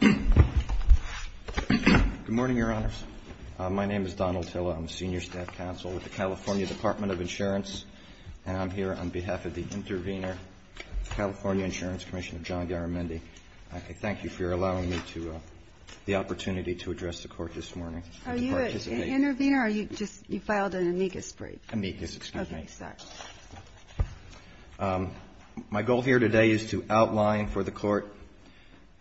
Good morning, Your Honors. My name is Don Altilla. I'm a Senior Staff Counsel with the California Department of Insurance, and I'm here on behalf of the Intervenor, California Insurance Commission of John Garamendi. I thank you for allowing me the opportunity to address the Court this morning. Are you an Intervenor, or you just filed an amicus brief? Amicus, excuse me. Okay, sorry. My goal here today is to outline for the Court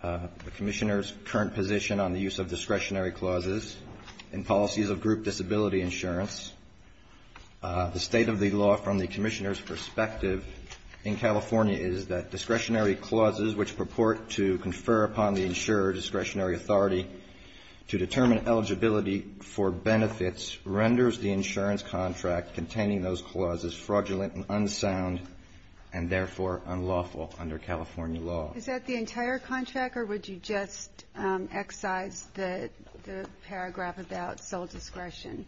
the Commissioner's current position on the use of discretionary clauses in policies of group disability insurance. The state of the law from the Commissioner's perspective in California is that discretionary clauses which purport to confer upon the insurer discretionary authority to determine eligibility for benefits renders the insurance contract containing those clauses fraudulent and unsound, and therefore unlawful under California law. Is that the entire contract, or would you just excise the paragraph about sole discretion?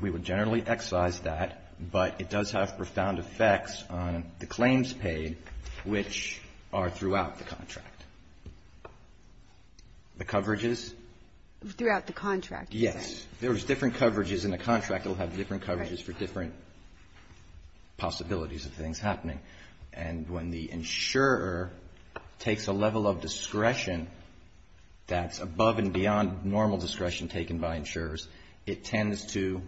We would generally excise that, but it does have profound effects on the claims paid, which are throughout the contract. The coverages? Throughout the contract. Yes. If there was different coverages in a contract, it will have different coverages for different possibilities of things happening. And when the insurer takes a level of discretion that's above and beyond normal discretion taken by insurers, it tends to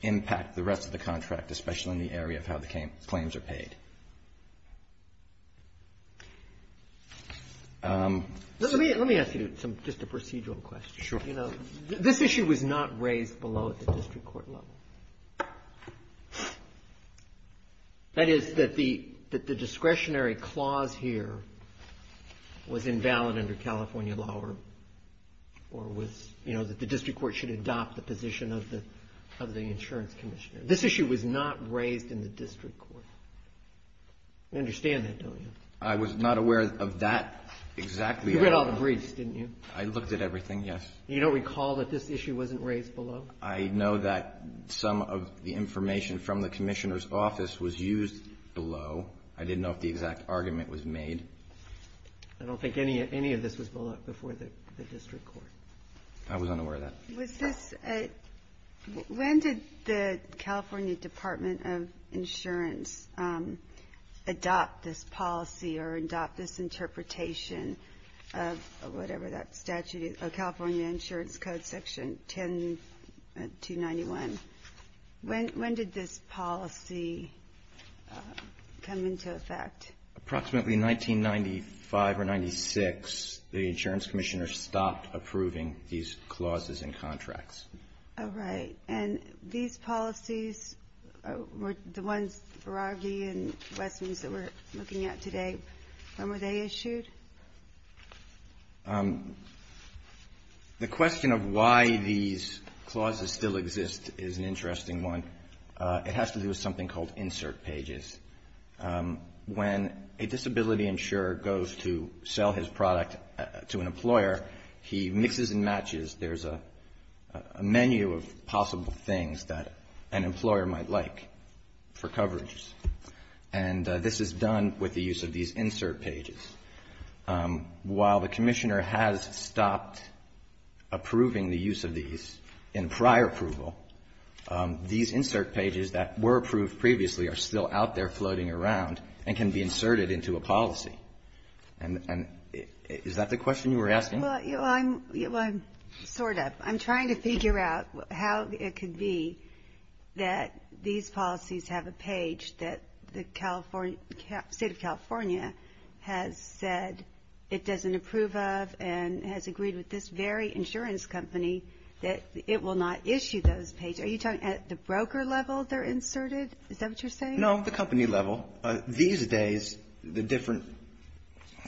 impact the rest of the contract, especially in the area of how the claims are paid. Let me ask you just a procedural question. Sure. You know, this issue was not raised below at the district court level. That is, that the discretionary clause here was invalid under California law or was, you know, that the district court should adopt the position of the insurance Commissioner. This issue was not raised in the district court. You understand that, don't you? I was not aware of that exactly. You read all the briefs, didn't you? I looked at everything, yes. You don't recall that this issue wasn't raised below? I know that some of the information from the Commissioner's office was used below. I didn't know if the exact argument was made. I don't think any of this was below before the district court. I was unaware of that. When did the California Department of Insurance adopt this policy or adopt this interpretation of whatever that statute is? Oh, California Insurance Code Section 10291. When did this policy come into effect? Approximately 1995 or 96, the insurance Commissioner stopped approving these clauses and contracts. All right. And these policies, the ones Beraghi and Westmans that we're looking at today, when were they issued? The question of why these clauses still exist is an interesting one. It has to do with something called insert pages. When a disability insurer goes to sell his product to an employer, he mixes and matches. There's a menu of possible things that an employer might like for coverage. And this is done with the use of these insert pages. While the Commissioner has stopped approving the use of these in prior approval, these insert pages that were approved previously are still out there floating around and can be inserted into a policy. And is that the question you were asking? Well, I'm sort of. I'm trying to figure out how it could be that these policies have a page that the State of California has said it doesn't approve of and has agreed with this very insurance company that it will not issue those pages. Are you talking at the broker level they're inserted? Is that what you're saying? No, the company level. These days, the different.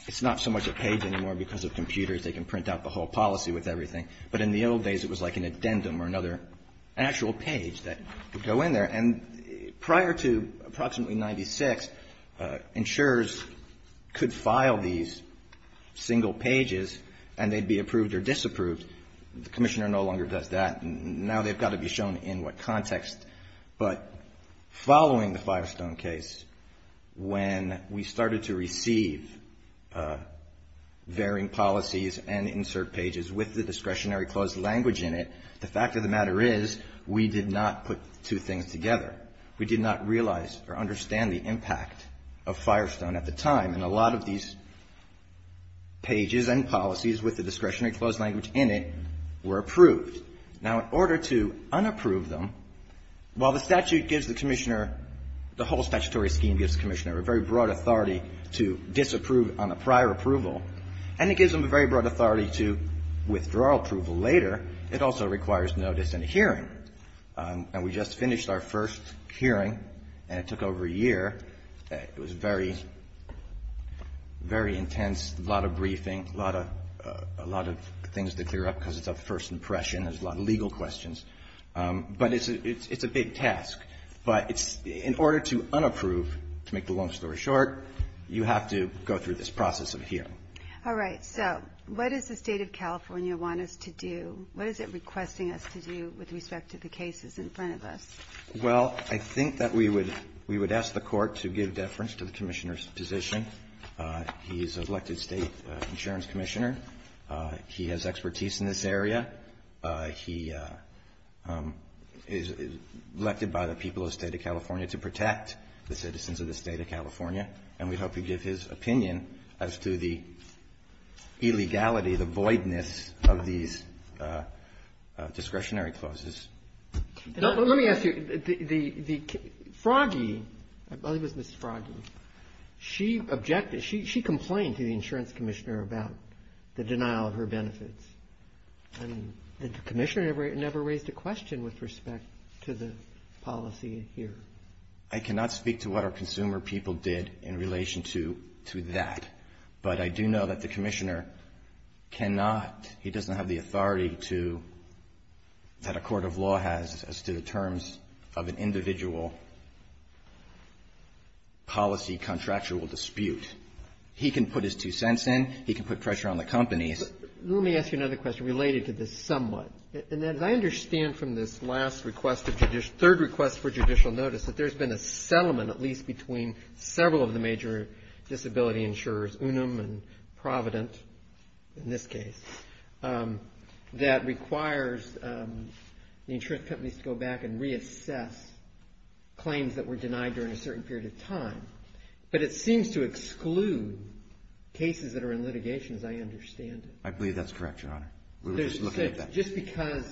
It's not so much a page anymore because of computers. They can print out the whole policy with everything. But in the old days, it was like an addendum or another actual page that would go in there. And prior to approximately 96, insurers could file these single pages and they'd be approved or disapproved. The Commissioner no longer does that. Now they've got to be shown in what context. But following the Firestone case, when we started to receive varying policies and insert pages with the discretionary clause language in it, the fact of the matter is we did not put two things together. We did not realize or understand the impact of Firestone at the time. And a lot of these pages and policies with the discretionary clause language in it were approved. Now, in order to unapprove them, while the statute gives the Commissioner, the whole statutory scheme gives the Commissioner a very broad authority to disapprove on a prior approval, and it gives them a very broad authority to withdraw approval later, it also requires notice and a hearing. And we just finished our first hearing and it took over a year. It was very, very intense, a lot of briefing, a lot of things to clear up because it's a first impression. There's a lot of legal questions. But it's a big task. But in order to unapprove, to make the long story short, you have to go through this process of hearing. All right. So what does the State of California want us to do? What is it requesting us to do with respect to the cases in front of us? Well, I think that we would ask the Court to give deference to the Commissioner's position. He is an elected State Insurance Commissioner. He has expertise in this area. He is elected by the people of the State of California to protect the citizens of the State of California. And we hope you give his opinion as to the illegality, the voidness of these discretionary clauses. Let me ask you. Froggy, I believe it was Ms. Froggy, she objected, she complained to the Insurance Commissioner about the denial of her benefits. And the Commissioner never raised a question with respect to the policy here. I cannot speak to what our consumer people did in relation to that. But I do know that the Commissioner cannot, he doesn't have the authority to, that a court of law has as to the terms of an individual policy contractual dispute. He can put his two cents in. He can put pressure on the companies. Let me ask you another question related to this somewhat. And as I understand from this last request, third request for judicial notice, that there's been a settlement at least between several of the major disability insurers, Unum and Provident in this case, that requires the insurance companies to go back and reassess claims that were denied during a certain period of time. But it seems to exclude cases that are in litigation, as I understand it. I believe that's correct, Your Honor. We were just looking at that. Just because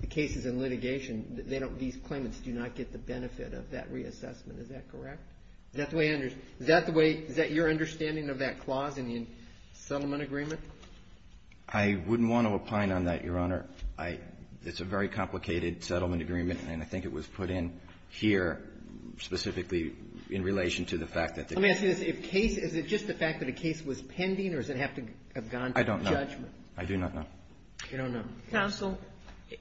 the cases in litigation, they don't, these claimants do not get the benefit of that reassessment. Is that correct? Is that the way, is that your understanding of that clause in the settlement agreement? I wouldn't want to opine on that, Your Honor. It's a very complicated settlement agreement, and I think it was put in here specifically in relation to the fact that the case was pending or does it have to have gone to judgment? I don't know. I do not know. You don't know. Counsel,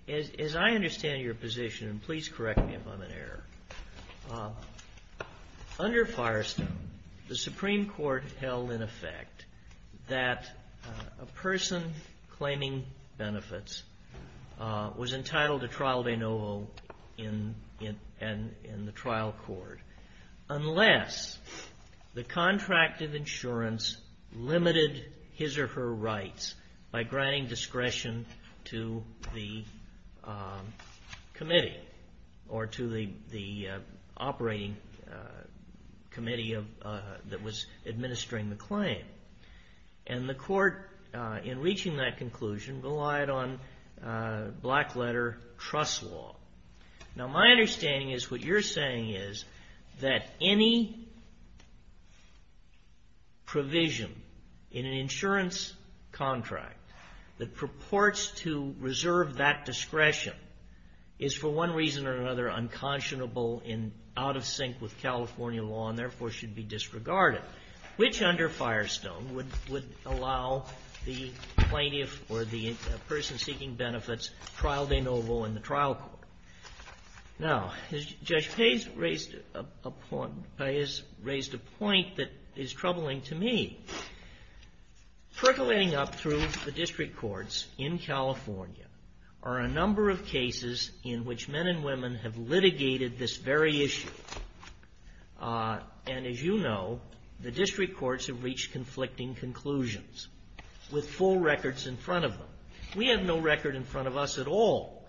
as I understand your position, and please correct me if I'm in error, under Firestone, the Supreme Court held in effect that a person claiming benefits was entitled to trial de novo in the trial court unless the contract of insurance limited his or her rights by granting discretion to the committee or to the operating committee that was administering the claim. And the court, in reaching that conclusion, relied on black letter trust law. Now, my understanding is what you're saying is that any provision in an insurance contract that purports to reserve that discretion is for one reason or another unconscionable and out of sync with California law and, therefore, should be disregarded, which under Firestone would allow the plaintiff or the person seeking benefits trial de novo in the trial court. Now, Judge Payne has raised a point that is troubling to me. Percolating up through the district courts in California are a number of cases in which men and women have a very issue. And as you know, the district courts have reached conflicting conclusions with full records in front of them. We have no record in front of us at all.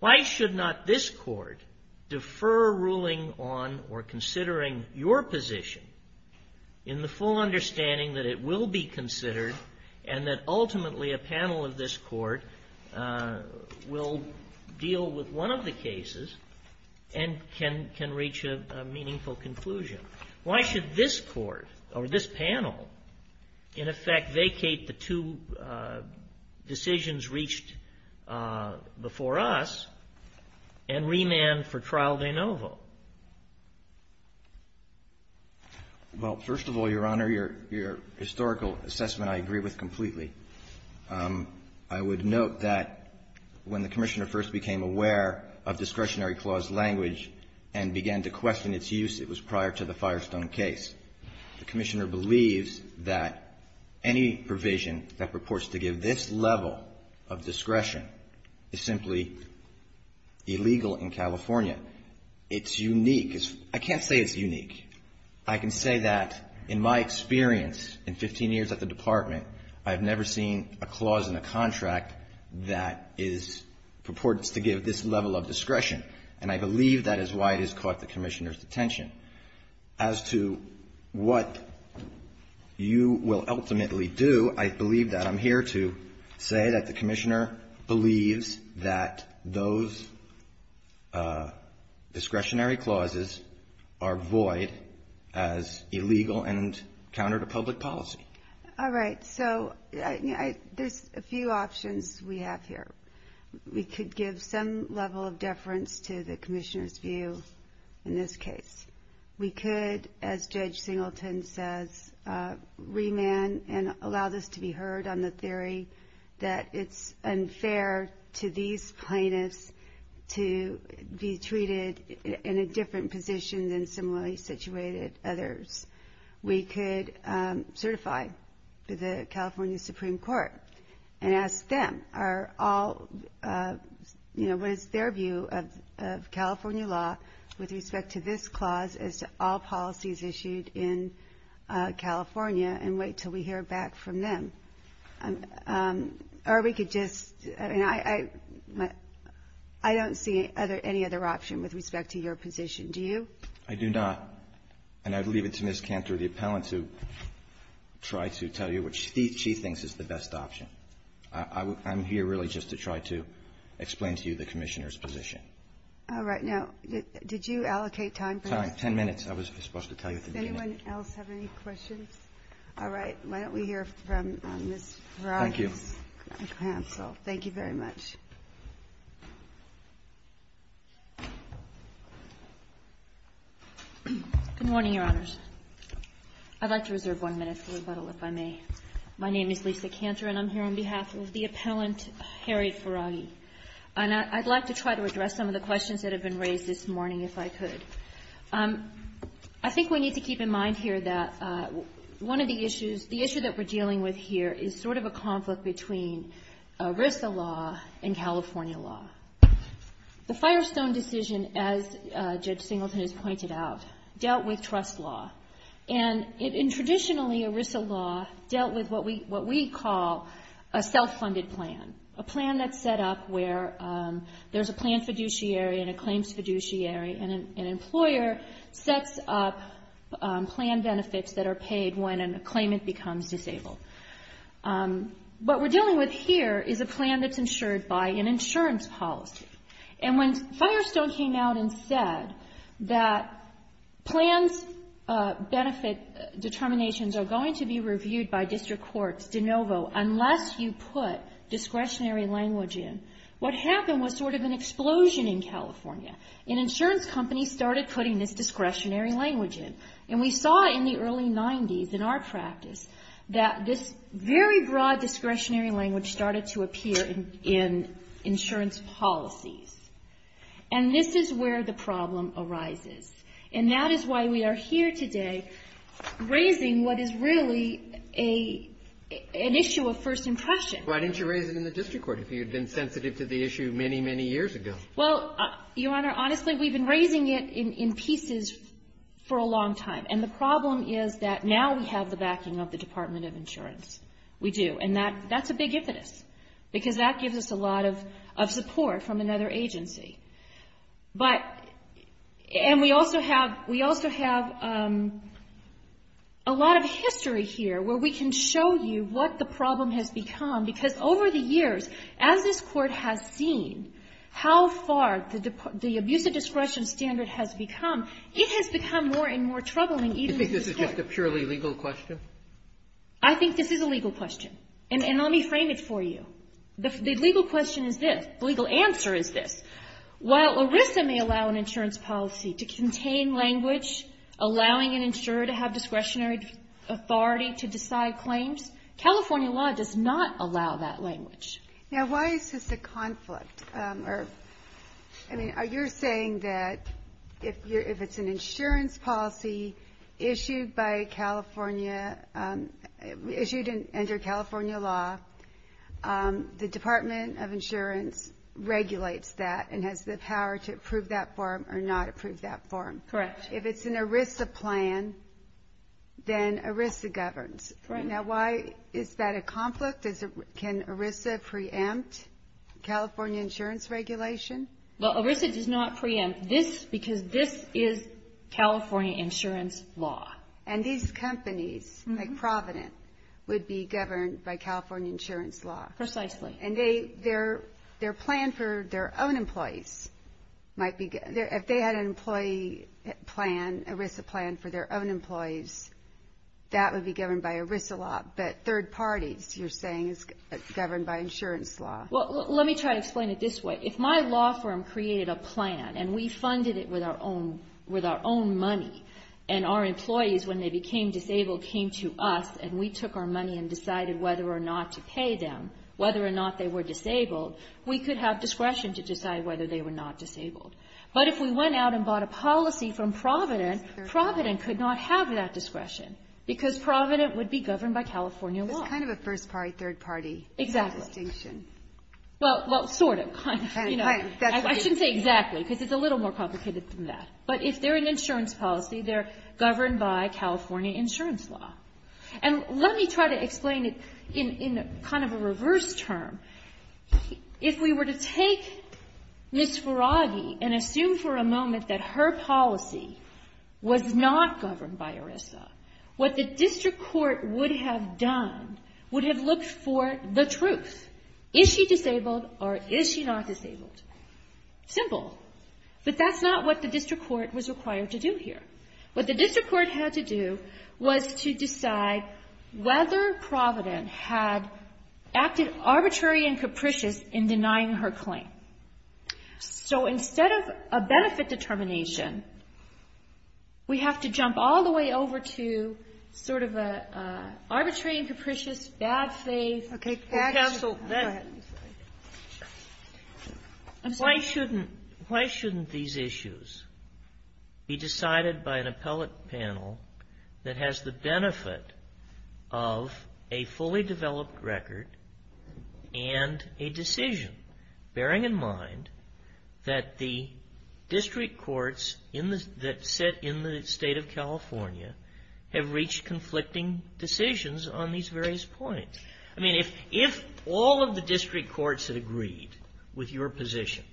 Why should not this court defer ruling on or considering your position in the full understanding that it will be considered and that ultimately a panel of this court will deal with one of the cases and can reach a meaningful conclusion? Why should this court or this panel, in effect, vacate the two decisions reached before us and remand for trial de novo? Well, first of all, Your Honor, your historical assessment I agree with completely. I would note that when the Commissioner first became aware of discretionary clause language and began to question its use, it was prior to the Firestone case. The Commissioner believes that any provision that purports to give this level of discretion is simply illegal in California. It's unique. I can't say it's unique. I can say that in my experience in 15 years at the Department, I have never seen a clause in a contract that purports to give this level of discretion. And I believe that is why it has caught the Commissioner's attention. As to what you will ultimately do, I believe that I'm here to say that the Commissioner believes that those provisions are considered as illegal and counter to public policy. All right. So there's a few options we have here. We could give some level of deference to the Commissioner's view in this case. We could, as Judge Singleton says, remand and allow this to be heard on the theory that it's unfair to these plaintiffs to be treated in a different position than similarly situated others. We could certify the California Supreme Court and ask them what is their view of California law with respect to this clause as to all policies issued in California and wait until we hear back from them. Or we could just, I don't see any other option with respect to your position. Do you? I do not. And I'd leave it to Ms. Cantor, the appellant, to try to tell you what she thinks is the best option. I'm here really just to try to explain to you the Commissioner's position. All right. Now, did you allocate time for this? Ms. Ferraghi. Good morning, Your Honors. I'd like to reserve one minute for rebuttal, if I may. My name is Lisa Cantor, and I'm here on behalf of the appellant, Harriet Ferraghi. And I'd like to try to address some of the questions that have been raised this morning, if I could. I think we need to keep in mind here that one of the issues, the issue that we're dealing with here is sort of a conflict between ERISA law and California law. The Firestone decision, as Judge Singleton has pointed out, dealt with trust law. And traditionally, ERISA law dealt with what we call a self-funded plan, a plan that's set up where there's a plan fiduciary and a claims fiduciary, and an employer sets up plan benefits that are paid when a claimant becomes disabled. What we're dealing with here is a plan that's insured by an insurance policy. And when Firestone came out and said that plans' benefit determinations are going to be reviewed by district courts de novo unless you put discretionary language in, what happened was sort of an explosion. In California, an insurance company started putting this discretionary language in. And we saw in the early 90s, in our practice, that this very broad discretionary language started to appear in insurance policies. And this is where the problem arises. And that is why we are here today raising what is really an issue of first impression. Why didn't you raise it in the district court if you had been sensitive to the issue many, many years ago? Well, Your Honor, honestly, we've been raising it in pieces for a long time. And the problem is that now we have the backing of the Department of Insurance. We do. And that's a big impetus, because that gives us a lot of support from another agency. But we also have a lot of history here where we can show you what the problem has become, because over the years, as this Court has seen how far the abuse of discretion standard has become, it has become more and more troubling even in the district. Do you think this is just a purely legal question? I think this is a legal question. And let me frame it for you. The legal question is this. The legal answer is this. While ERISA may allow an insurance policy to contain language, allowing an insurer to have discretionary authority to decide claims, California law does not allow that language. Now, why is this a conflict? I mean, you're saying that if it's an insurance policy issued by California, issued under California law, the Department of Insurance regulates that and has the power to approve that form or not approve that form. Correct. If it's an ERISA plan, then ERISA governs. Now, why is that a conflict? Can ERISA preempt California insurance regulation? Well, ERISA does not preempt this, because this is California insurance law. And these companies, like Provident, would be governed by California insurance law. Precisely. And their plan for their own employees might be, if they had an employee plan, ERISA plan for their own employees, that would be governed by ERISA law. But third parties, you're saying, is governed by insurance law. Well, let me try to explain it this way. If my law firm created a plan, and we funded it with our own money, and our employees, when they became disabled, came to us, and we took our money and decided whether or not to pay them, whether or not they were disabled, we could have discretion to decide whether they were not disabled. But if we went out and bought a policy from Provident, Provident could not have that discretion, because Provident would be governed by California law. It's kind of a first-party, third-party distinction. Well, sort of. I shouldn't say exactly, because it's a little more complicated than that. But if they're an insurance policy, they're governed by California insurance law. And let me try to explain it in kind of a reverse term. If we were to take Ms. Faraghi and assume for a moment that her policy was not governed by ERISA, what the district court would have done would have looked for the truth. Is she disabled, or is she not disabled? Simple. But that's not what the district court was required to do here. What the district court had to do was to decide whether Provident had acted arbitrary and capricious in denying her claim. So instead of a benefit determination, we have to jump all the way over to sort of an arbitrary and capricious, bad faith. Why shouldn't these issues be decided by an appellate panel that has the benefit of a fully developed record and a decision, bearing in mind that the district courts that sit in the state of California have reached conflicting decisions on these various points? I mean, if all of the district courts had agreed with your position,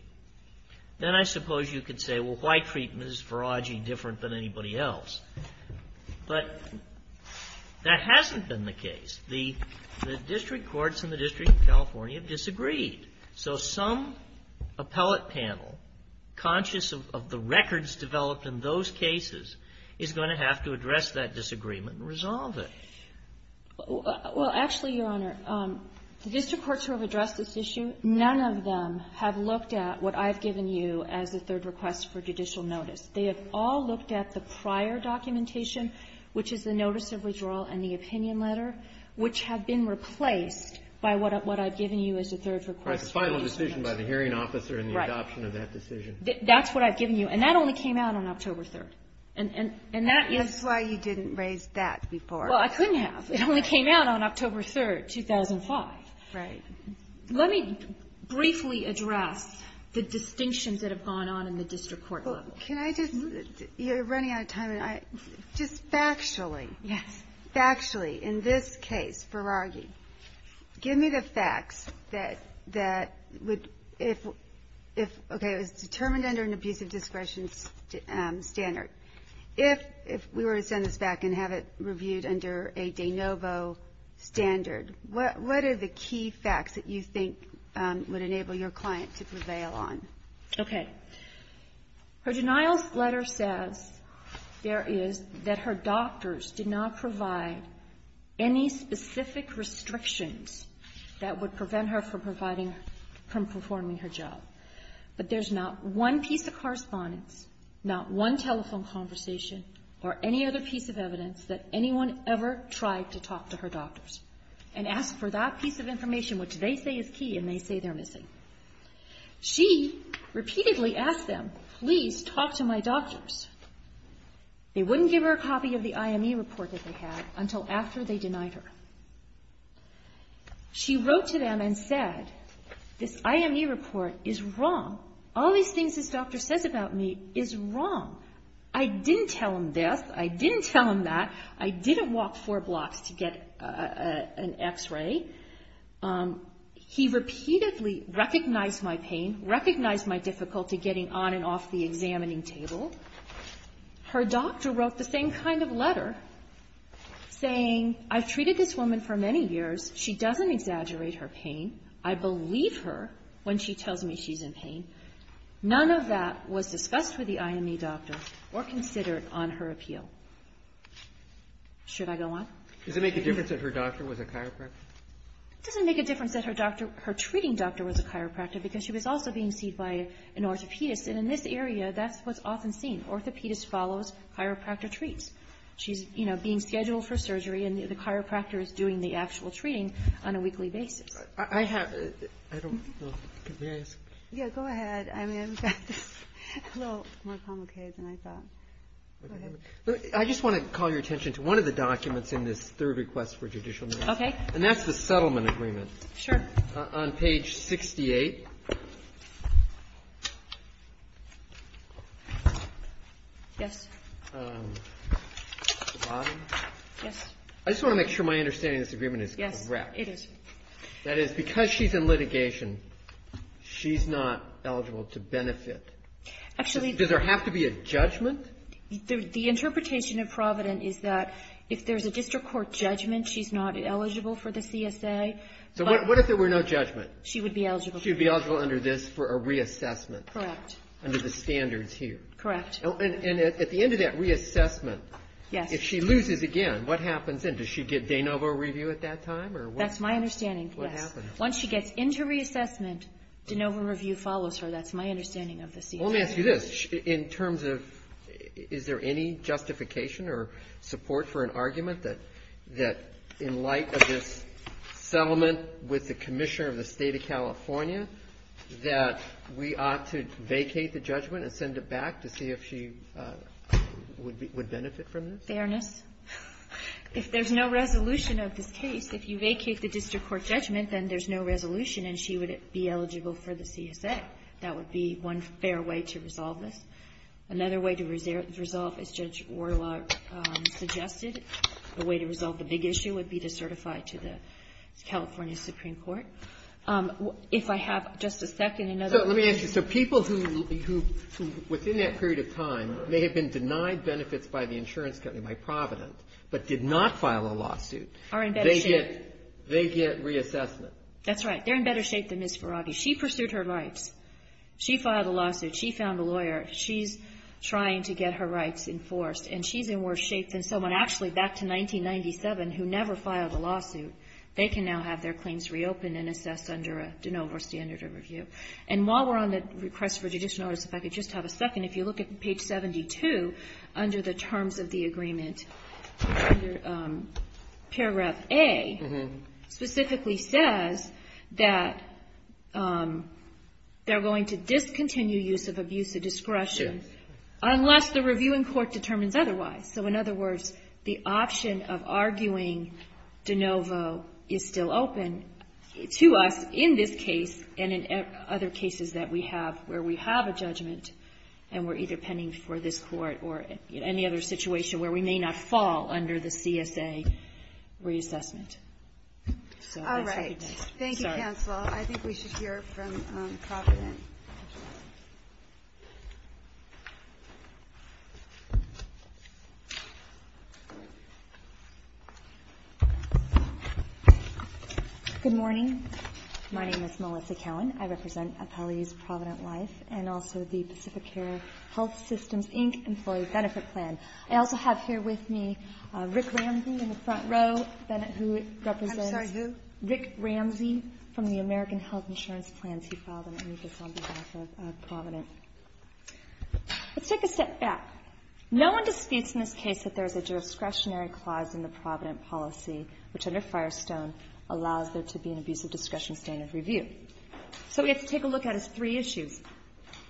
then I suppose you could say, well, why treat Ms. Faraghi different than anybody else? But that hasn't been the case. The district courts in the District of California have disagreed. So some appellate panel, conscious of the records developed in those cases, is going to have to address that disagreement and resolve it. Well, actually, Your Honor, the district courts who have addressed this issue, none of them have looked at what I've given you as a third request for judicial notice. They have all looked at the prior documentation, which is the notice of withdrawal and the opinion letter, which have been replaced by what I've given you as a third request for judicial notice. Right. The final decision by the hearing officer and the adoption of that decision. That's what I've given you. And that only came out on October 3rd. And that is why you didn't raise that before. Well, I couldn't have. It only came out on October 3rd, 2005. Right. Let me briefly address the distinctions that have gone on in the district court level. Well, can I just? You're running out of time. Just factually. Yes. Factually, in this case, Faraghi, give me the facts that would, if, okay, it was determined under an abusive discretion standard. If we were to send this back and have it reviewed under a de novo standard, what are the key facts that you think would enable your client to prevail on? Okay. Her denial letter says there is that her doctors did not provide any specific restrictions that would prevent her from providing, from performing her job. But there's not one piece of correspondence, not one telephone conversation, or any other piece of evidence that anyone ever tried to talk to her doctors and ask for that piece of information which they say is key and they say they're missing. She repeatedly asked them, please talk to my doctors. They wouldn't give her a copy of the IME report that they had until after they denied her. She wrote to them and said, this IME report is wrong. All these things this doctor says about me is wrong. I didn't tell him this. I didn't tell him that. I didn't walk four blocks to get an X-ray. He repeatedly recognized my pain, recognized my difficulty getting on and off the examining table. Her doctor wrote the same kind of letter saying I've treated this woman for many years. She doesn't exaggerate her pain. I believe her when she tells me she's in pain. None of that was discussed with the IME doctor or considered on her appeal. Should I go on? Does it make a difference that her doctor was a chiropractor? It doesn't make a difference that her doctor, her treating doctor was a chiropractor because she was also being seen by an orthopedist. And in this area, that's what's often seen. Orthopedist follows chiropractor treats. She's, you know, being scheduled for surgery, and the chiropractor is doing the actual treating on a weekly basis. I have to, I don't know. May I ask? Yeah, go ahead. I mean, I've got a little more complicated than I thought. Go ahead. I just want to call your attention to one of the documents in this third request for judicial notice. Okay. And that's the settlement agreement. Sure. On page 68. Yes. The bottom. Yes. I just want to make sure my understanding of this agreement is correct. Yes, it is. That is, because she's in litigation, she's not eligible to benefit. Actually. Does there have to be a judgment? The interpretation of Provident is that if there's a district court judgment, she's not eligible for the CSA. So what if there were no judgment? She would be eligible. She would be eligible under this for a reassessment. Correct. Under the standards here. Correct. And at the end of that reassessment, if she loses again, what happens then? Does she get de novo review at that time? That's my understanding, yes. What happens? Once she gets into reassessment, de novo review follows her. That's my understanding of the CSA. Let me ask you this. In terms of, is there any justification or support for an argument that in light of this settlement with the Commissioner of the State of California, that we ought to vacate the judgment and send it back to see if she would benefit from this? Fairness. If there's no resolution of this case, if you vacate the district court judgment, then there's no resolution and she would be eligible for the CSA. That would be one fair way to resolve this. Another way to resolve, as Judge Warlock suggested, a way to resolve the big issue would be to certify to the California Supreme Court. If I have just a second, another one. So let me ask you. So people who, within that period of time, may have been denied benefits by the insurance company, by Provident, but did not file a lawsuit. Are in better shape. They get reassessment. That's right. They're in better shape than Ms. Farabi. She pursued her rights. She filed a lawsuit. She found a lawyer. She's trying to get her rights enforced. And she's in worse shape than someone actually back to 1997 who never filed a lawsuit. They can now have their claims reopened and assessed under a de novo or standard of review. And while we're on the request for judicial notice, if I could just have a second, if you look at page 72 under the terms of the agreement, paragraph A specifically says that they're going to discontinue use of abusive discretion unless the reviewing court determines otherwise. So in other words, the option of arguing de novo is still open to us in this case and in other cases that we have where we have a judgment and we're either pending for this court or any other situation where we may not fall under the CSA reassessment. So I'll take that. All right. Thank you, counsel. I think we should hear from Provident. Good morning. My name is Melissa Cowan. I represent Appellees Provident Life and also the Pacific Care Health Systems, Inc. Employee Benefit Plan. I also have here with me Rick Ramsey in the front row, who represents Rick Ramsey from the American Health Insurance Plans. He filed an amicus on behalf of Provident. Let's take a step back. No one disputes in this case that there is a discretionary clause in the Provident policy which under Firestone allows there to be an abusive discretion standard review. So we have to take a look at its three issues.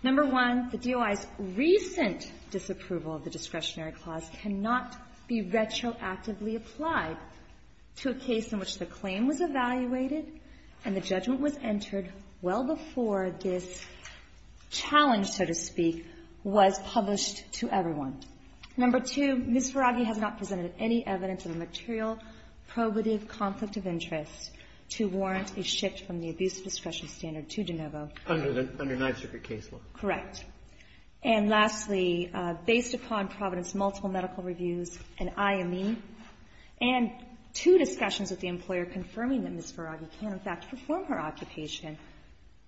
Number one, the DOI's recent disapproval of the discretionary clause cannot be retroactively applied to a case in which the claim was evaluated and the judgment was entered well before this challenge, so to speak, was published to everyone. Number two, Ms. Faraghi has not presented any evidence of a material probative conflict of interest to warrant a shift from the abusive discretion standard to De Novo. Under the ninth circuit case law. Correct. And lastly, based upon Provident's multiple medical reviews and IME, and two discussions with the employer confirming that Ms. Faraghi can, in fact, perform her occupation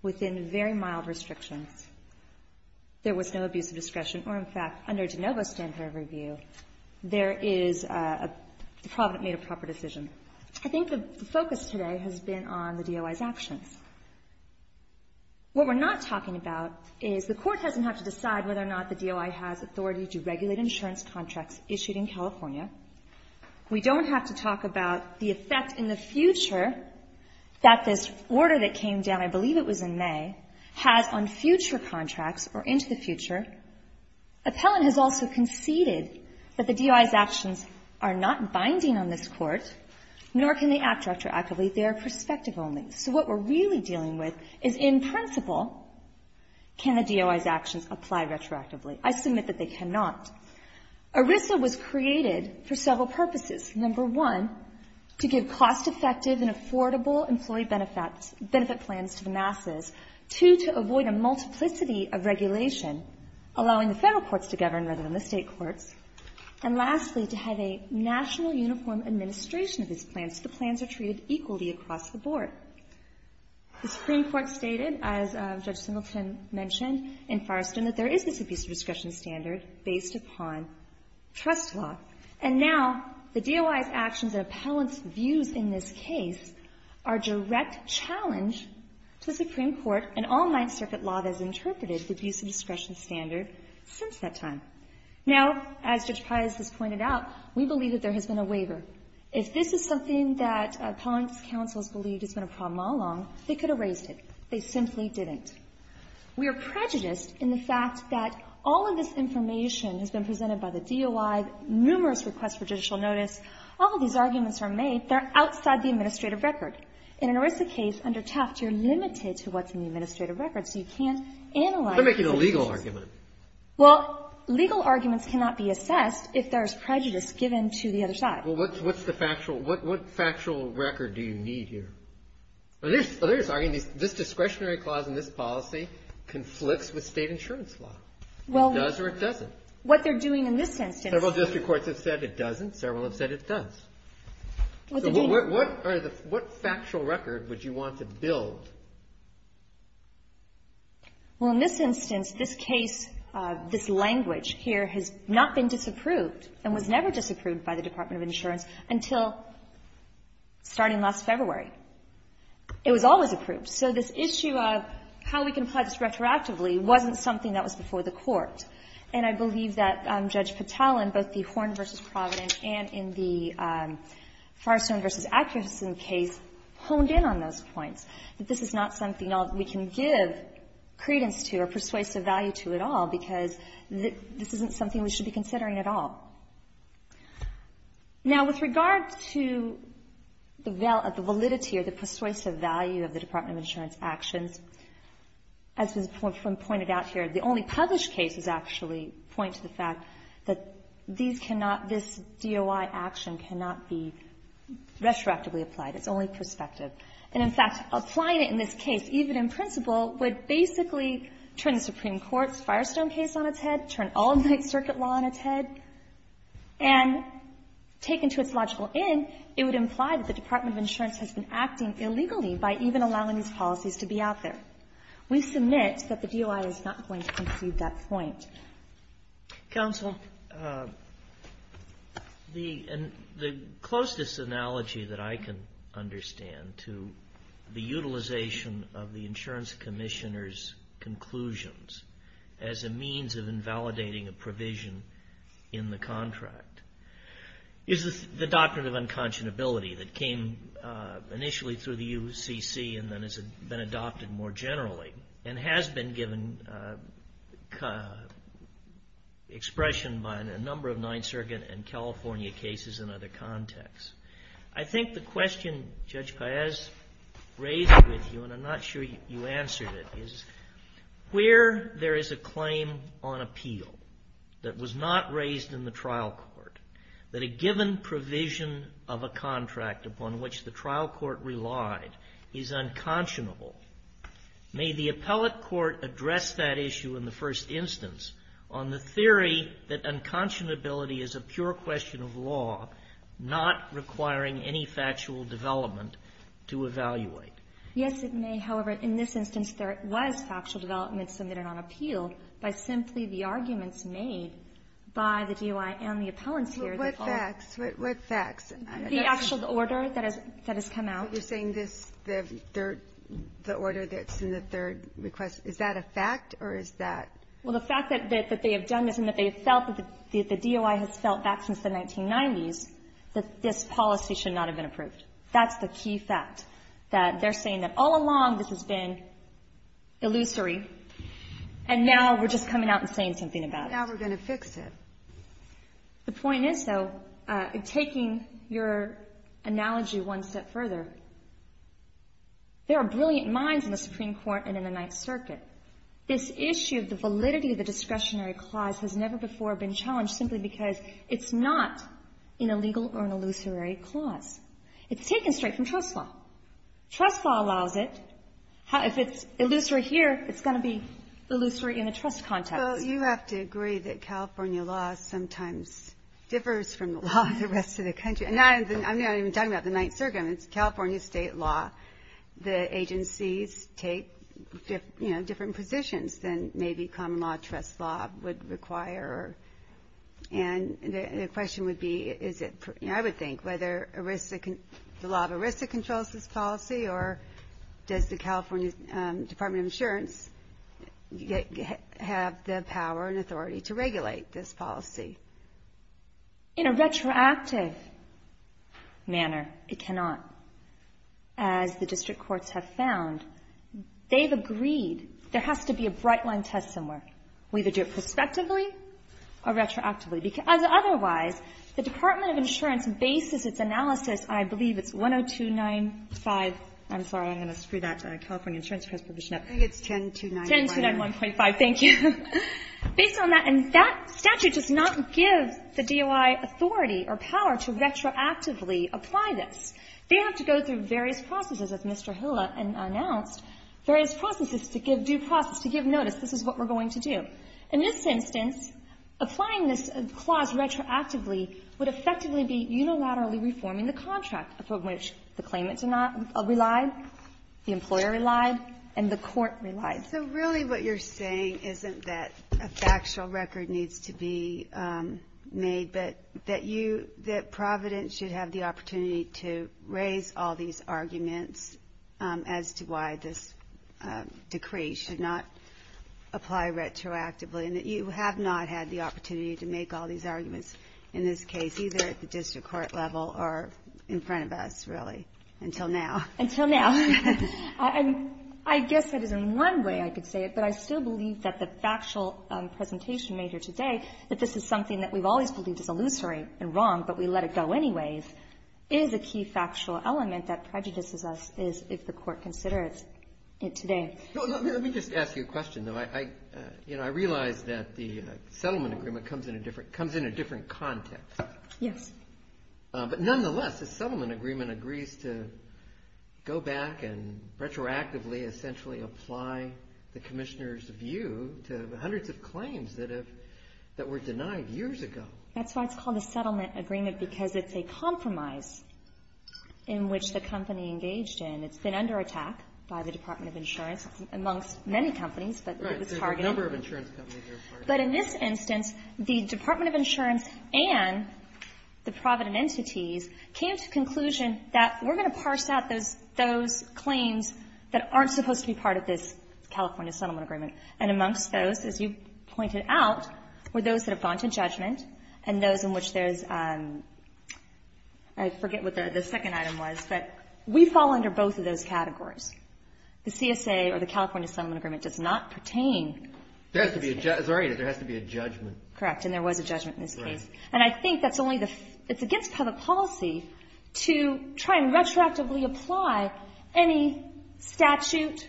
within very mild restrictions, there was no abusive discretion, or in fact, under De Novo standard review, there is a, Provident made a proper decision. I think the focus today has been on the DOI's actions. What we're not talking about is the Court doesn't have to decide whether or not the DOI has authority to regulate insurance contracts issued in California. We don't have to talk about the effect in the future that this order that came down, I believe it was in May, has on future contracts or into the future. Appellant has also conceded that the DOI's actions are not binding on this Court, nor can they act retroactively. They are prospective only. So what we're really dealing with is, in principle, can the DOI's actions apply retroactively? I submit that they cannot. ERISA was created for several purposes. Number one, to give cost-effective and affordable employee benefit plans to the masses. Two, to avoid a multiplicity of regulation, allowing the Federal courts to govern rather than the State courts. And lastly, to have a national uniform administration of these plans so the plans are treated equally across the board. The Supreme Court stated, as Judge Singleton mentioned in Forreston, that there is this abuse of discretion standard based upon trust law. And now the DOI's actions and appellant's views in this case are direct challenge to the Supreme Court and all Ninth Circuit law that has interpreted the abuse of discretion standard since that time. Now, as Judge Pius has pointed out, we believe that there has been a waiver. If this is something that appellant's counsels believed has been a problem all along, they could have raised it. They simply didn't. We are prejudiced in the fact that all of this information has been presented by the DOI, numerous requests for judicial notice, all of these arguments are made. They're outside the administrative record. In an ERISA case, under Tuft, you're limited to what's in the administrative record, so you can't analyze it. And that's a legal argument. Well, legal arguments cannot be assessed if there's prejudice given to the other side. Well, what's the factual, what factual record do you need here? This discretionary clause in this policy conflicts with State insurance law. It does or it doesn't. What they're doing in this instance. Several district courts have said it doesn't. Several have said it does. What are the, what factual record would you want to build? Well, in this instance, this case, this language here has not been disapproved and was never disapproved by the Department of Insurance until starting last February. It was always approved. So this issue of how we can apply this retroactively wasn't something that was before the Court. And I believe that Judge Patel in both the Horn v. Providence and in the Firestone v. Atkinson case honed in on those points. That this is not something that we can give credence to or persuasive value to at all because this isn't something we should be considering at all. Now, with regard to the validity or the persuasive value of the Department of Insurance actions, as was pointed out here, the only published cases actually point to the fact that these cannot, this DOI action cannot be retroactively applied. It's only prospective. And, in fact, applying it in this case, even in principle, would basically turn the Supreme Court's Firestone case on its head, turn all of Ninth Circuit law on its head, and taken to its logical end, it would imply that the Department of Insurance has been acting illegally by even allowing these policies to be out there. We submit that the DOI is not going to concede that point. Counsel, the closest analogy that I can understand to the utilization of the insurance commissioner's conclusions as a means of invalidating a provision in the contract is the Doctrine of Unconscionability that came initially through the UCC and then has been adopted more generally and has been given expression by a number of Ninth Circuit and California cases in other contexts. I think the question Judge Paez raised with you, and I'm not sure you answered it, is where there is a claim on appeal that was not raised in the trial court that a given provision of a contract upon which the trial court relied is unconscionable. May the appellate court address that issue in the first instance on the theory that unconscionability is a pure question of law not requiring any factual development to evaluate? Yes, it may. However, in this instance, there was factual development submitted on appeal by simply the arguments made by the DOI and the appellants here. But what facts? What facts? The actual order that has come out. You're saying this, the order that's in the third request, is that a fact or is that? Well, the fact that they have done this and that they have felt that the DOI has felt back since the 1990s that this policy should not have been approved. That's the key fact, that they're saying that all along this has been illusory, and now we're just coming out and saying something about it. Now we're going to fix it. The point is, though, taking your analogy one step further, there are brilliant minds in the Supreme Court and in the Ninth Circuit. This issue of the validity of the discretionary clause has never before been challenged simply because it's not an illegal or an illusory clause. It's taken straight from trust law. Trust law allows it. If it's illusory here, it's going to be illusory in a trust context. Well, you have to agree that California law sometimes differs from the law of the rest of the country. I'm not even talking about the Ninth Circuit. It's California state law. The agencies take different positions than maybe common law, trust law would require. And the question would be, I would think, whether the law of ERISA controls this policy, or does the California Department of Insurance have the power and authority to regulate this policy? In a retroactive manner, it cannot. As the district courts have found, they've agreed there has to be a bright line test somewhere. We either do it prospectively or retroactively. Because otherwise, the Department of Insurance bases its analysis, I believe it's 10295. I'm sorry. I'm going to screw that California Insurance Transportation Act. Kagan. It's 10291.5. 10291.5. Thank you. Based on that, and that statute does not give the DOI authority or power to retroactively apply this. They have to go through various processes, as Mr. Hiller announced, various processes to give due process, to give notice. This is what we're going to do. In this instance, applying this clause retroactively would effectively be unilaterally reforming the contract from which the claimants are not relied, the employer relied, and the court relied. So really what you're saying isn't that a factual record needs to be made, but that you, that Providence should have the opportunity to raise all these arguments as to why this decree should not apply retroactively, and that you have not had the opportunity to make all these arguments in this case, either at the district court level or in front of us, really, until now. Until now. I guess that is one way I could say it, but I still believe that the factual presentation made here today, that this is something that we've always believed is illusory and wrong, but we let it go anyways, is a key factual element that prejudices us, if the court considers it today. Let me just ask you a question, though. I realize that the settlement agreement comes in a different context. Yes. But nonetheless, the settlement agreement agrees to go back and retroactively essentially apply the commissioner's view to hundreds of claims that were denied years ago. That's why it's called a settlement agreement, because it's a compromise in which the company engaged in, it's been under attack by the Department of Insurance amongst many companies, but it's targeted. Right. There's a number of insurance companies that are part of it. But in this instance, the Department of Insurance and the Providence entities came to the conclusion that we're going to parse out those claims that aren't supposed to be part of this California settlement agreement. And amongst those, as you pointed out, were those that have gone to judgment and those in which there's, I forget what the second item was, but we fall under both of those categories. The CSA or the California settlement agreement does not pertain. There has to be a judgment. Correct, and there was a judgment in this case. And I think that's only the, it's against public policy to try and retroactively apply any statute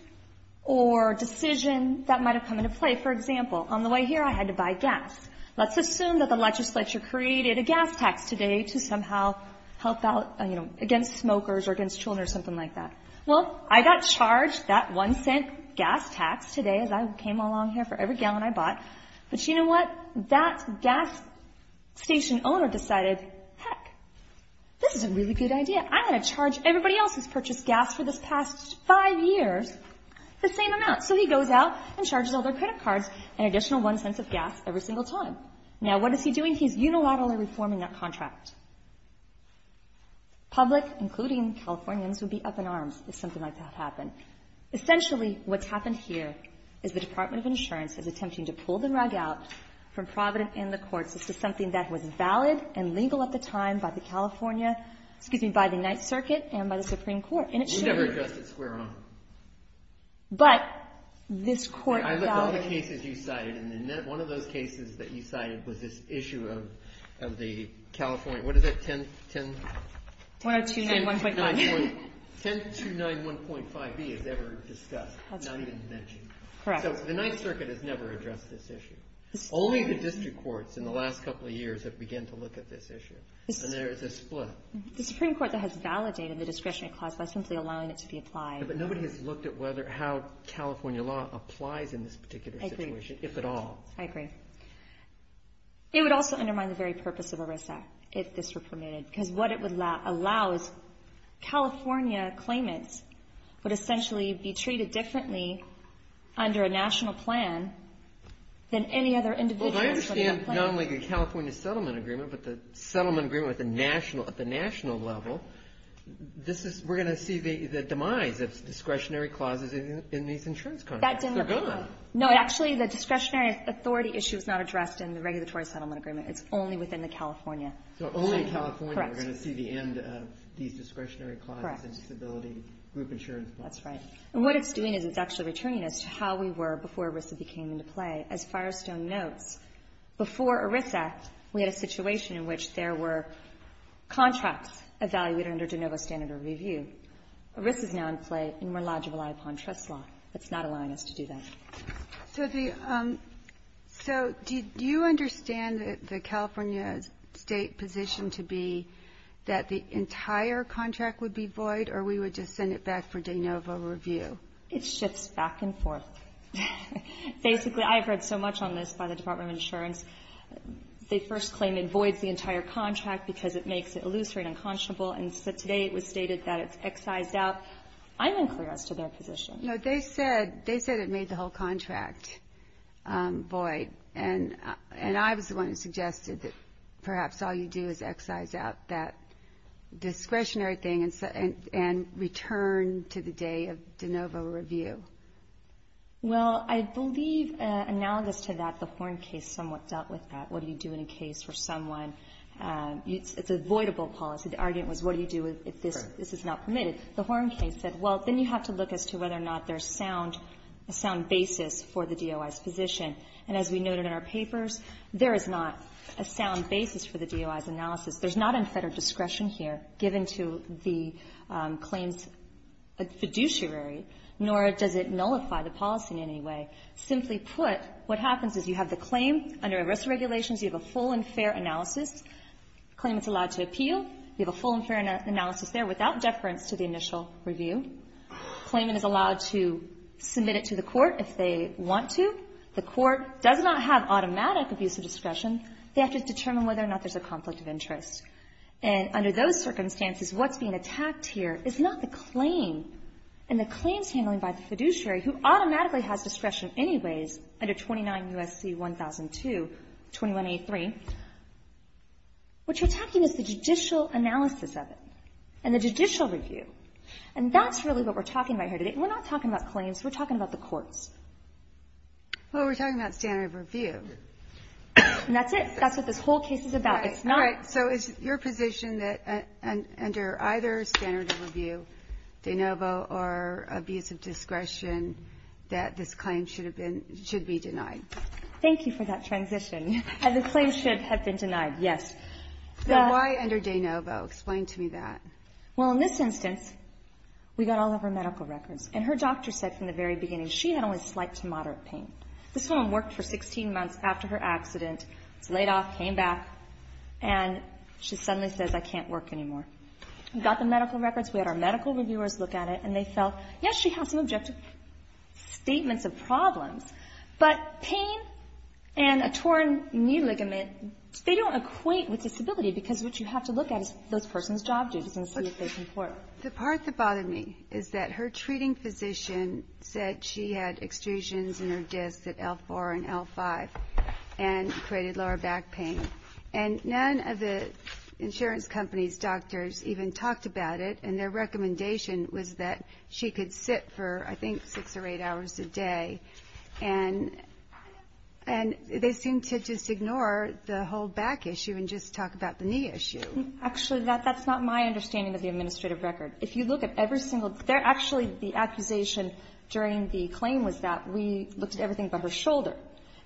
or decision that might have come into play. For example, on the way here, I had to buy gas. Let's assume that the legislature created a gas tax today to somehow help out, you know, against smokers or against children or something like that. Well, I got charged that one-cent gas tax today as I came along here for every gallon I bought. But you know what? That gas station owner decided, heck, this is a really good idea. I'm going to charge everybody else who's purchased gas for this past five years the same amount. So he goes out and charges all their credit cards an additional one-cent of gas every single time. Now, what is he doing? He's unilaterally reforming that contract. Public, including Californians, would be up in arms if something like that happened. Essentially, what's happened here is the Department of Insurance is attempting to pull the rug out from Providence and the courts as to something that was valid and legal at the time by the California, excuse me, by the Ninth Circuit and by the Supreme Court. You never addressed it square on. But this court validates it. I looked at all the cases you cited, and one of those cases that you cited was this issue of the California, what is it, 10- 10291.5. 10291.5b is ever discussed, not even mentioned. Correct. So the Ninth Circuit has never addressed this issue. Only the district courts in the last couple of years have began to look at this issue. And there is a split. The Supreme Court has validated the discretionary clause by simply allowing it to be applied. But nobody has looked at whether how California law applies in this particular situation. I agree. If at all. I agree. It would also undermine the very purpose of ERISA if this were permitted. Because what it would allow is California claimants would essentially be treated differently under a national plan than any other individual. Well, if I understand not only the California settlement agreement, but the settlement agreement at the national level, this is, we're going to see the demise of discretionary clauses in these insurance contracts. They're gone. No, actually, the discretionary authority issue is not addressed in the regulatory settlement agreement. It's only within the California. So only in California are we going to see the end of these discretionary clauses and disability group insurance. That's right. And what it's doing is it's actually returning us to how we were before ERISA became into play. As Firestone notes, before ERISA, we had a situation in which there were contracts evaluated under de novo standard of review. ERISA is now in play and we're allowed to rely upon trust law. It's not allowing us to do that. So do you understand the California State position to be that the entire contract would be void or we would just send it back for de novo review? It shifts back and forth. Basically, I have read so much on this by the Department of Insurance. They first claim it voids the entire contract because it makes it illusory and unconscionable, and so today it was stated that it's excised out. I'm unclear as to their position. No, they said it made the whole contract void, and I was the one who suggested that perhaps all you do is excise out that discretionary thing and return to the day of de novo review. Well, I believe analogous to that, the Horn case somewhat dealt with that. What do you do in a case where someone – it's a voidable policy. The argument was what do you do if this is not permitted. The Horn case said, well, then you have to look as to whether or not there's a sound basis for the DOI's position, and as we noted in our papers, there is not a sound basis for the DOI's analysis. There's not a federal discretion here given to the claims fiduciary, nor does it nullify the policy in any way. Simply put, what happens is you have the claim under arrest regulations. You have a full and fair analysis. The claimant's allowed to appeal. You have a full and fair analysis there without deference to the initial review. The claimant is allowed to submit it to the court if they want to. The court does not have automatic abuse of discretion. They have to determine whether or not there's a conflict of interest. And under those circumstances, what's being attacked here is not the claim and the claims handled by the fiduciary, who automatically has discretion anyways under 29 U.S.C. 1002, 21A3. What you're attacking is the judicial analysis of it and the judicial review. And that's really what we're talking about here today. And we're not talking about claims. We're talking about the courts. Well, we're talking about standard of review. And that's it. That's what this whole case is about. All right. So it's your position that under either standard of review, de novo or abuse of discretion, that this claim should be denied. Thank you for that transition. The claim should have been denied, yes. Then why under de novo? Explain to me that. Well, in this instance, we got all of her medical records. And her doctor said from the very beginning she had only slight to moderate pain. This woman worked for 16 months after her accident, was laid off, came back, and she suddenly says, I can't work anymore. We got the medical records. We had our medical reviewers look at it, and they felt, yes, she has some objective statements of problems, but pain and a torn knee ligament, they don't equate with disability because what you have to look at is those person's job duties and see if they comport. The part that bothered me is that her treating physician said she had extrusions in her discs at L4 and L5 and created lower back pain. And none of the insurance company's doctors even talked about it, and their recommendation was that she could sit for, I think, six or eight hours a day. And they seemed to just ignore the whole back issue and just talk about the knee issue. Actually, that's not my understanding of the administrative record. If you look at every single they're actually the accusation during the claim was that we looked at everything but her shoulder.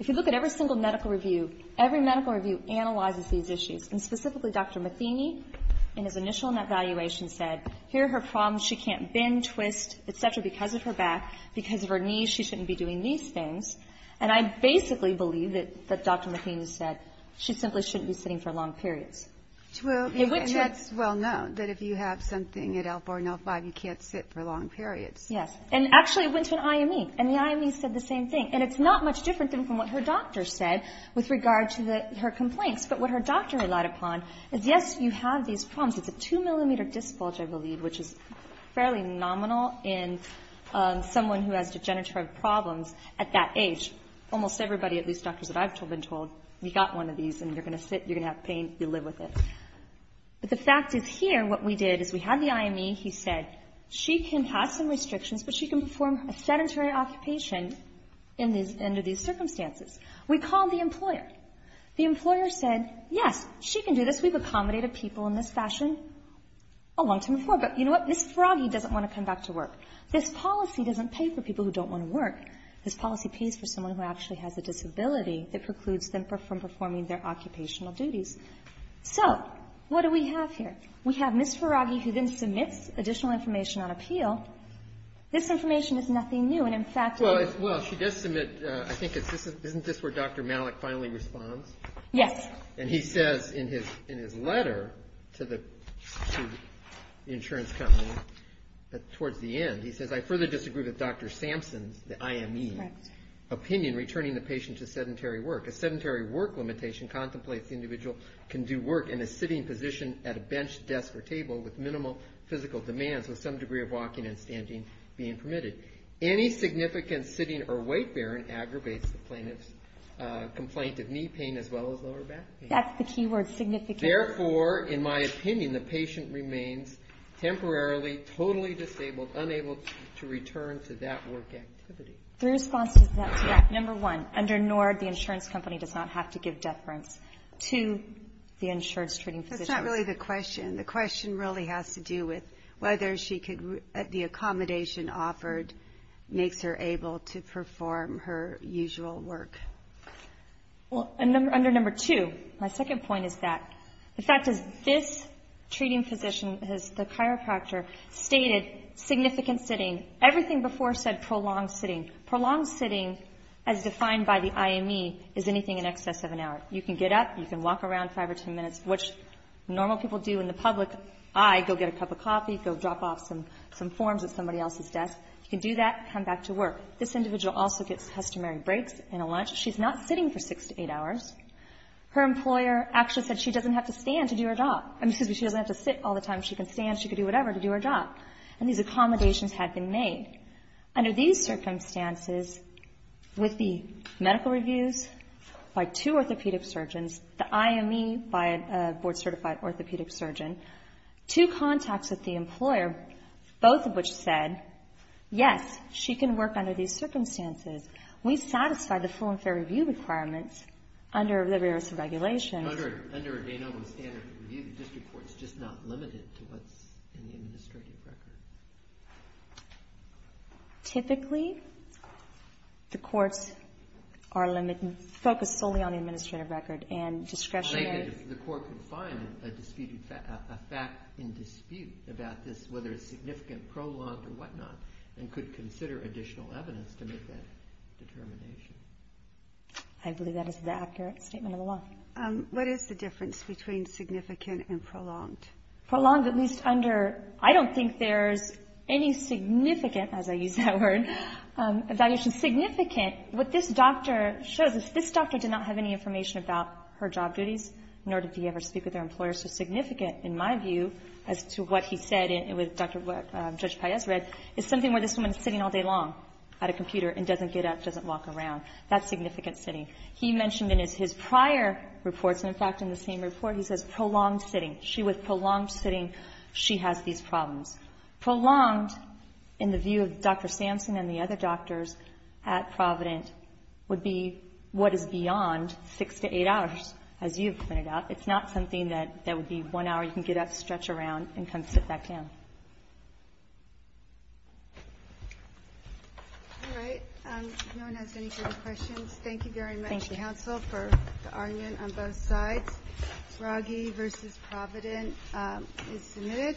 If you look at every single medical review, every medical review analyzes these issues, and specifically Dr. Matheny in his initial evaluation said, here are her problems. She can't bend, twist, et cetera, because of her back, because of her knee, she shouldn't be doing these things. And I basically believe that Dr. Matheny said she simply shouldn't be sitting for long periods. True, and that's well known, that if you have something at L4 and L5, you can't sit for long periods. Yes, and actually it went to an IME, and the IME said the same thing. And it's not much different than what her doctor said with regard to her complaints. But what her doctor relied upon is, yes, you have these problems. It's a two-millimeter disc bulge, I believe, which is fairly nominal in someone who has degenerative problems at that age. Almost everybody, at least doctors that I've been told, you got one of these and you're going to sit, you're going to have pain, you live with it. But the fact is here what we did is we had the IME. He said she can have some restrictions, but she can perform a sedentary occupation under these circumstances. We called the employer. The employer said, yes, she can do this. We've accommodated people in this fashion a long time before. But you know what? This froggy doesn't want to come back to work. This policy doesn't pay for people who don't want to work. This policy pays for someone who actually has a disability that precludes them from performing their occupational duties. So what do we have here? We have Ms. Faraghi who then submits additional information on appeal. This information is nothing new. And, in fact, it is. Well, she does submit, I think, isn't this where Dr. Malik finally responds? Yes. And he says in his letter to the insurance company towards the end, he says, I further disagree with Dr. Sampson's, the IME, opinion returning the patient to sedentary work. A sedentary work limitation contemplates the individual can do work in a sitting position at a bench, desk, or table with minimal physical demands with some degree of walking and standing being permitted. Any significant sitting or weight bearing aggravates the plaintiff's complaint of knee pain as well as lower back pain. That's the key word, significant. Therefore, in my opinion, the patient remains temporarily, totally disabled, unable to return to that work activity. The response to that is, number one, under NORD, the insurance company does not have to give deference to the insurance treating physician. That's not really the question. The question really has to do with whether the accommodation offered makes her able to perform her usual work. Well, under number two, my second point is that the fact is this treating physician has, the chiropractor, stated significant sitting. Everything before said prolonged sitting. Prolonged sitting, as defined by the IME, is anything in excess of an hour. You can get up, you can walk around five or ten minutes, which normal people do in the public. I go get a cup of coffee, go drop off some forms at somebody else's desk. You can do that, come back to work. This individual also gets customary breaks and a lunch. She's not sitting for six to eight hours. Her employer actually said she doesn't have to stand to do her job. I mean, excuse me, she doesn't have to sit all the time. She can stand, she can do whatever to do her job. And these accommodations had been made. Under these circumstances, with the medical reviews by two orthopedic surgeons, the IME by a board-certified orthopedic surgeon, two contacts with the employer, both of which said, yes, she can work under these circumstances. We satisfy the full and fair review requirements under the rarest of regulations. Under a Danoba standard review, the district court is just not limited to what's in the administrative record. Typically, the courts are focused solely on the administrative record and discretionary. The court can find a fact in dispute about this, whether it's significant, prolonged, or whatnot, and could consider additional evidence to make that determination. I believe that is the accurate statement of the law. What is the difference between significant and prolonged? Prolonged, at least under, I don't think there's any significant, as I use that word, evaluation. Significant, what this doctor shows us, this doctor did not have any information about her job duties, nor did he ever speak with her employer. So significant, in my view, as to what he said and what Judge Paez read, is something where this woman is sitting all day long at a computer and doesn't get up, doesn't walk around. That's significant sitting. He mentioned in his prior reports, in fact, in the same report, he says prolonged sitting. She, with prolonged sitting, she has these problems. Prolonged, in the view of Dr. Sampson and the other doctors at Provident, would be what is beyond six to eight hours, as you have pointed out. It's not something that would be one hour you can get up, stretch around, and come sit back down. All right. If no one has any further questions, thank you very much, counsel, for the argument on both sides. Bragy v. Provident is submitted.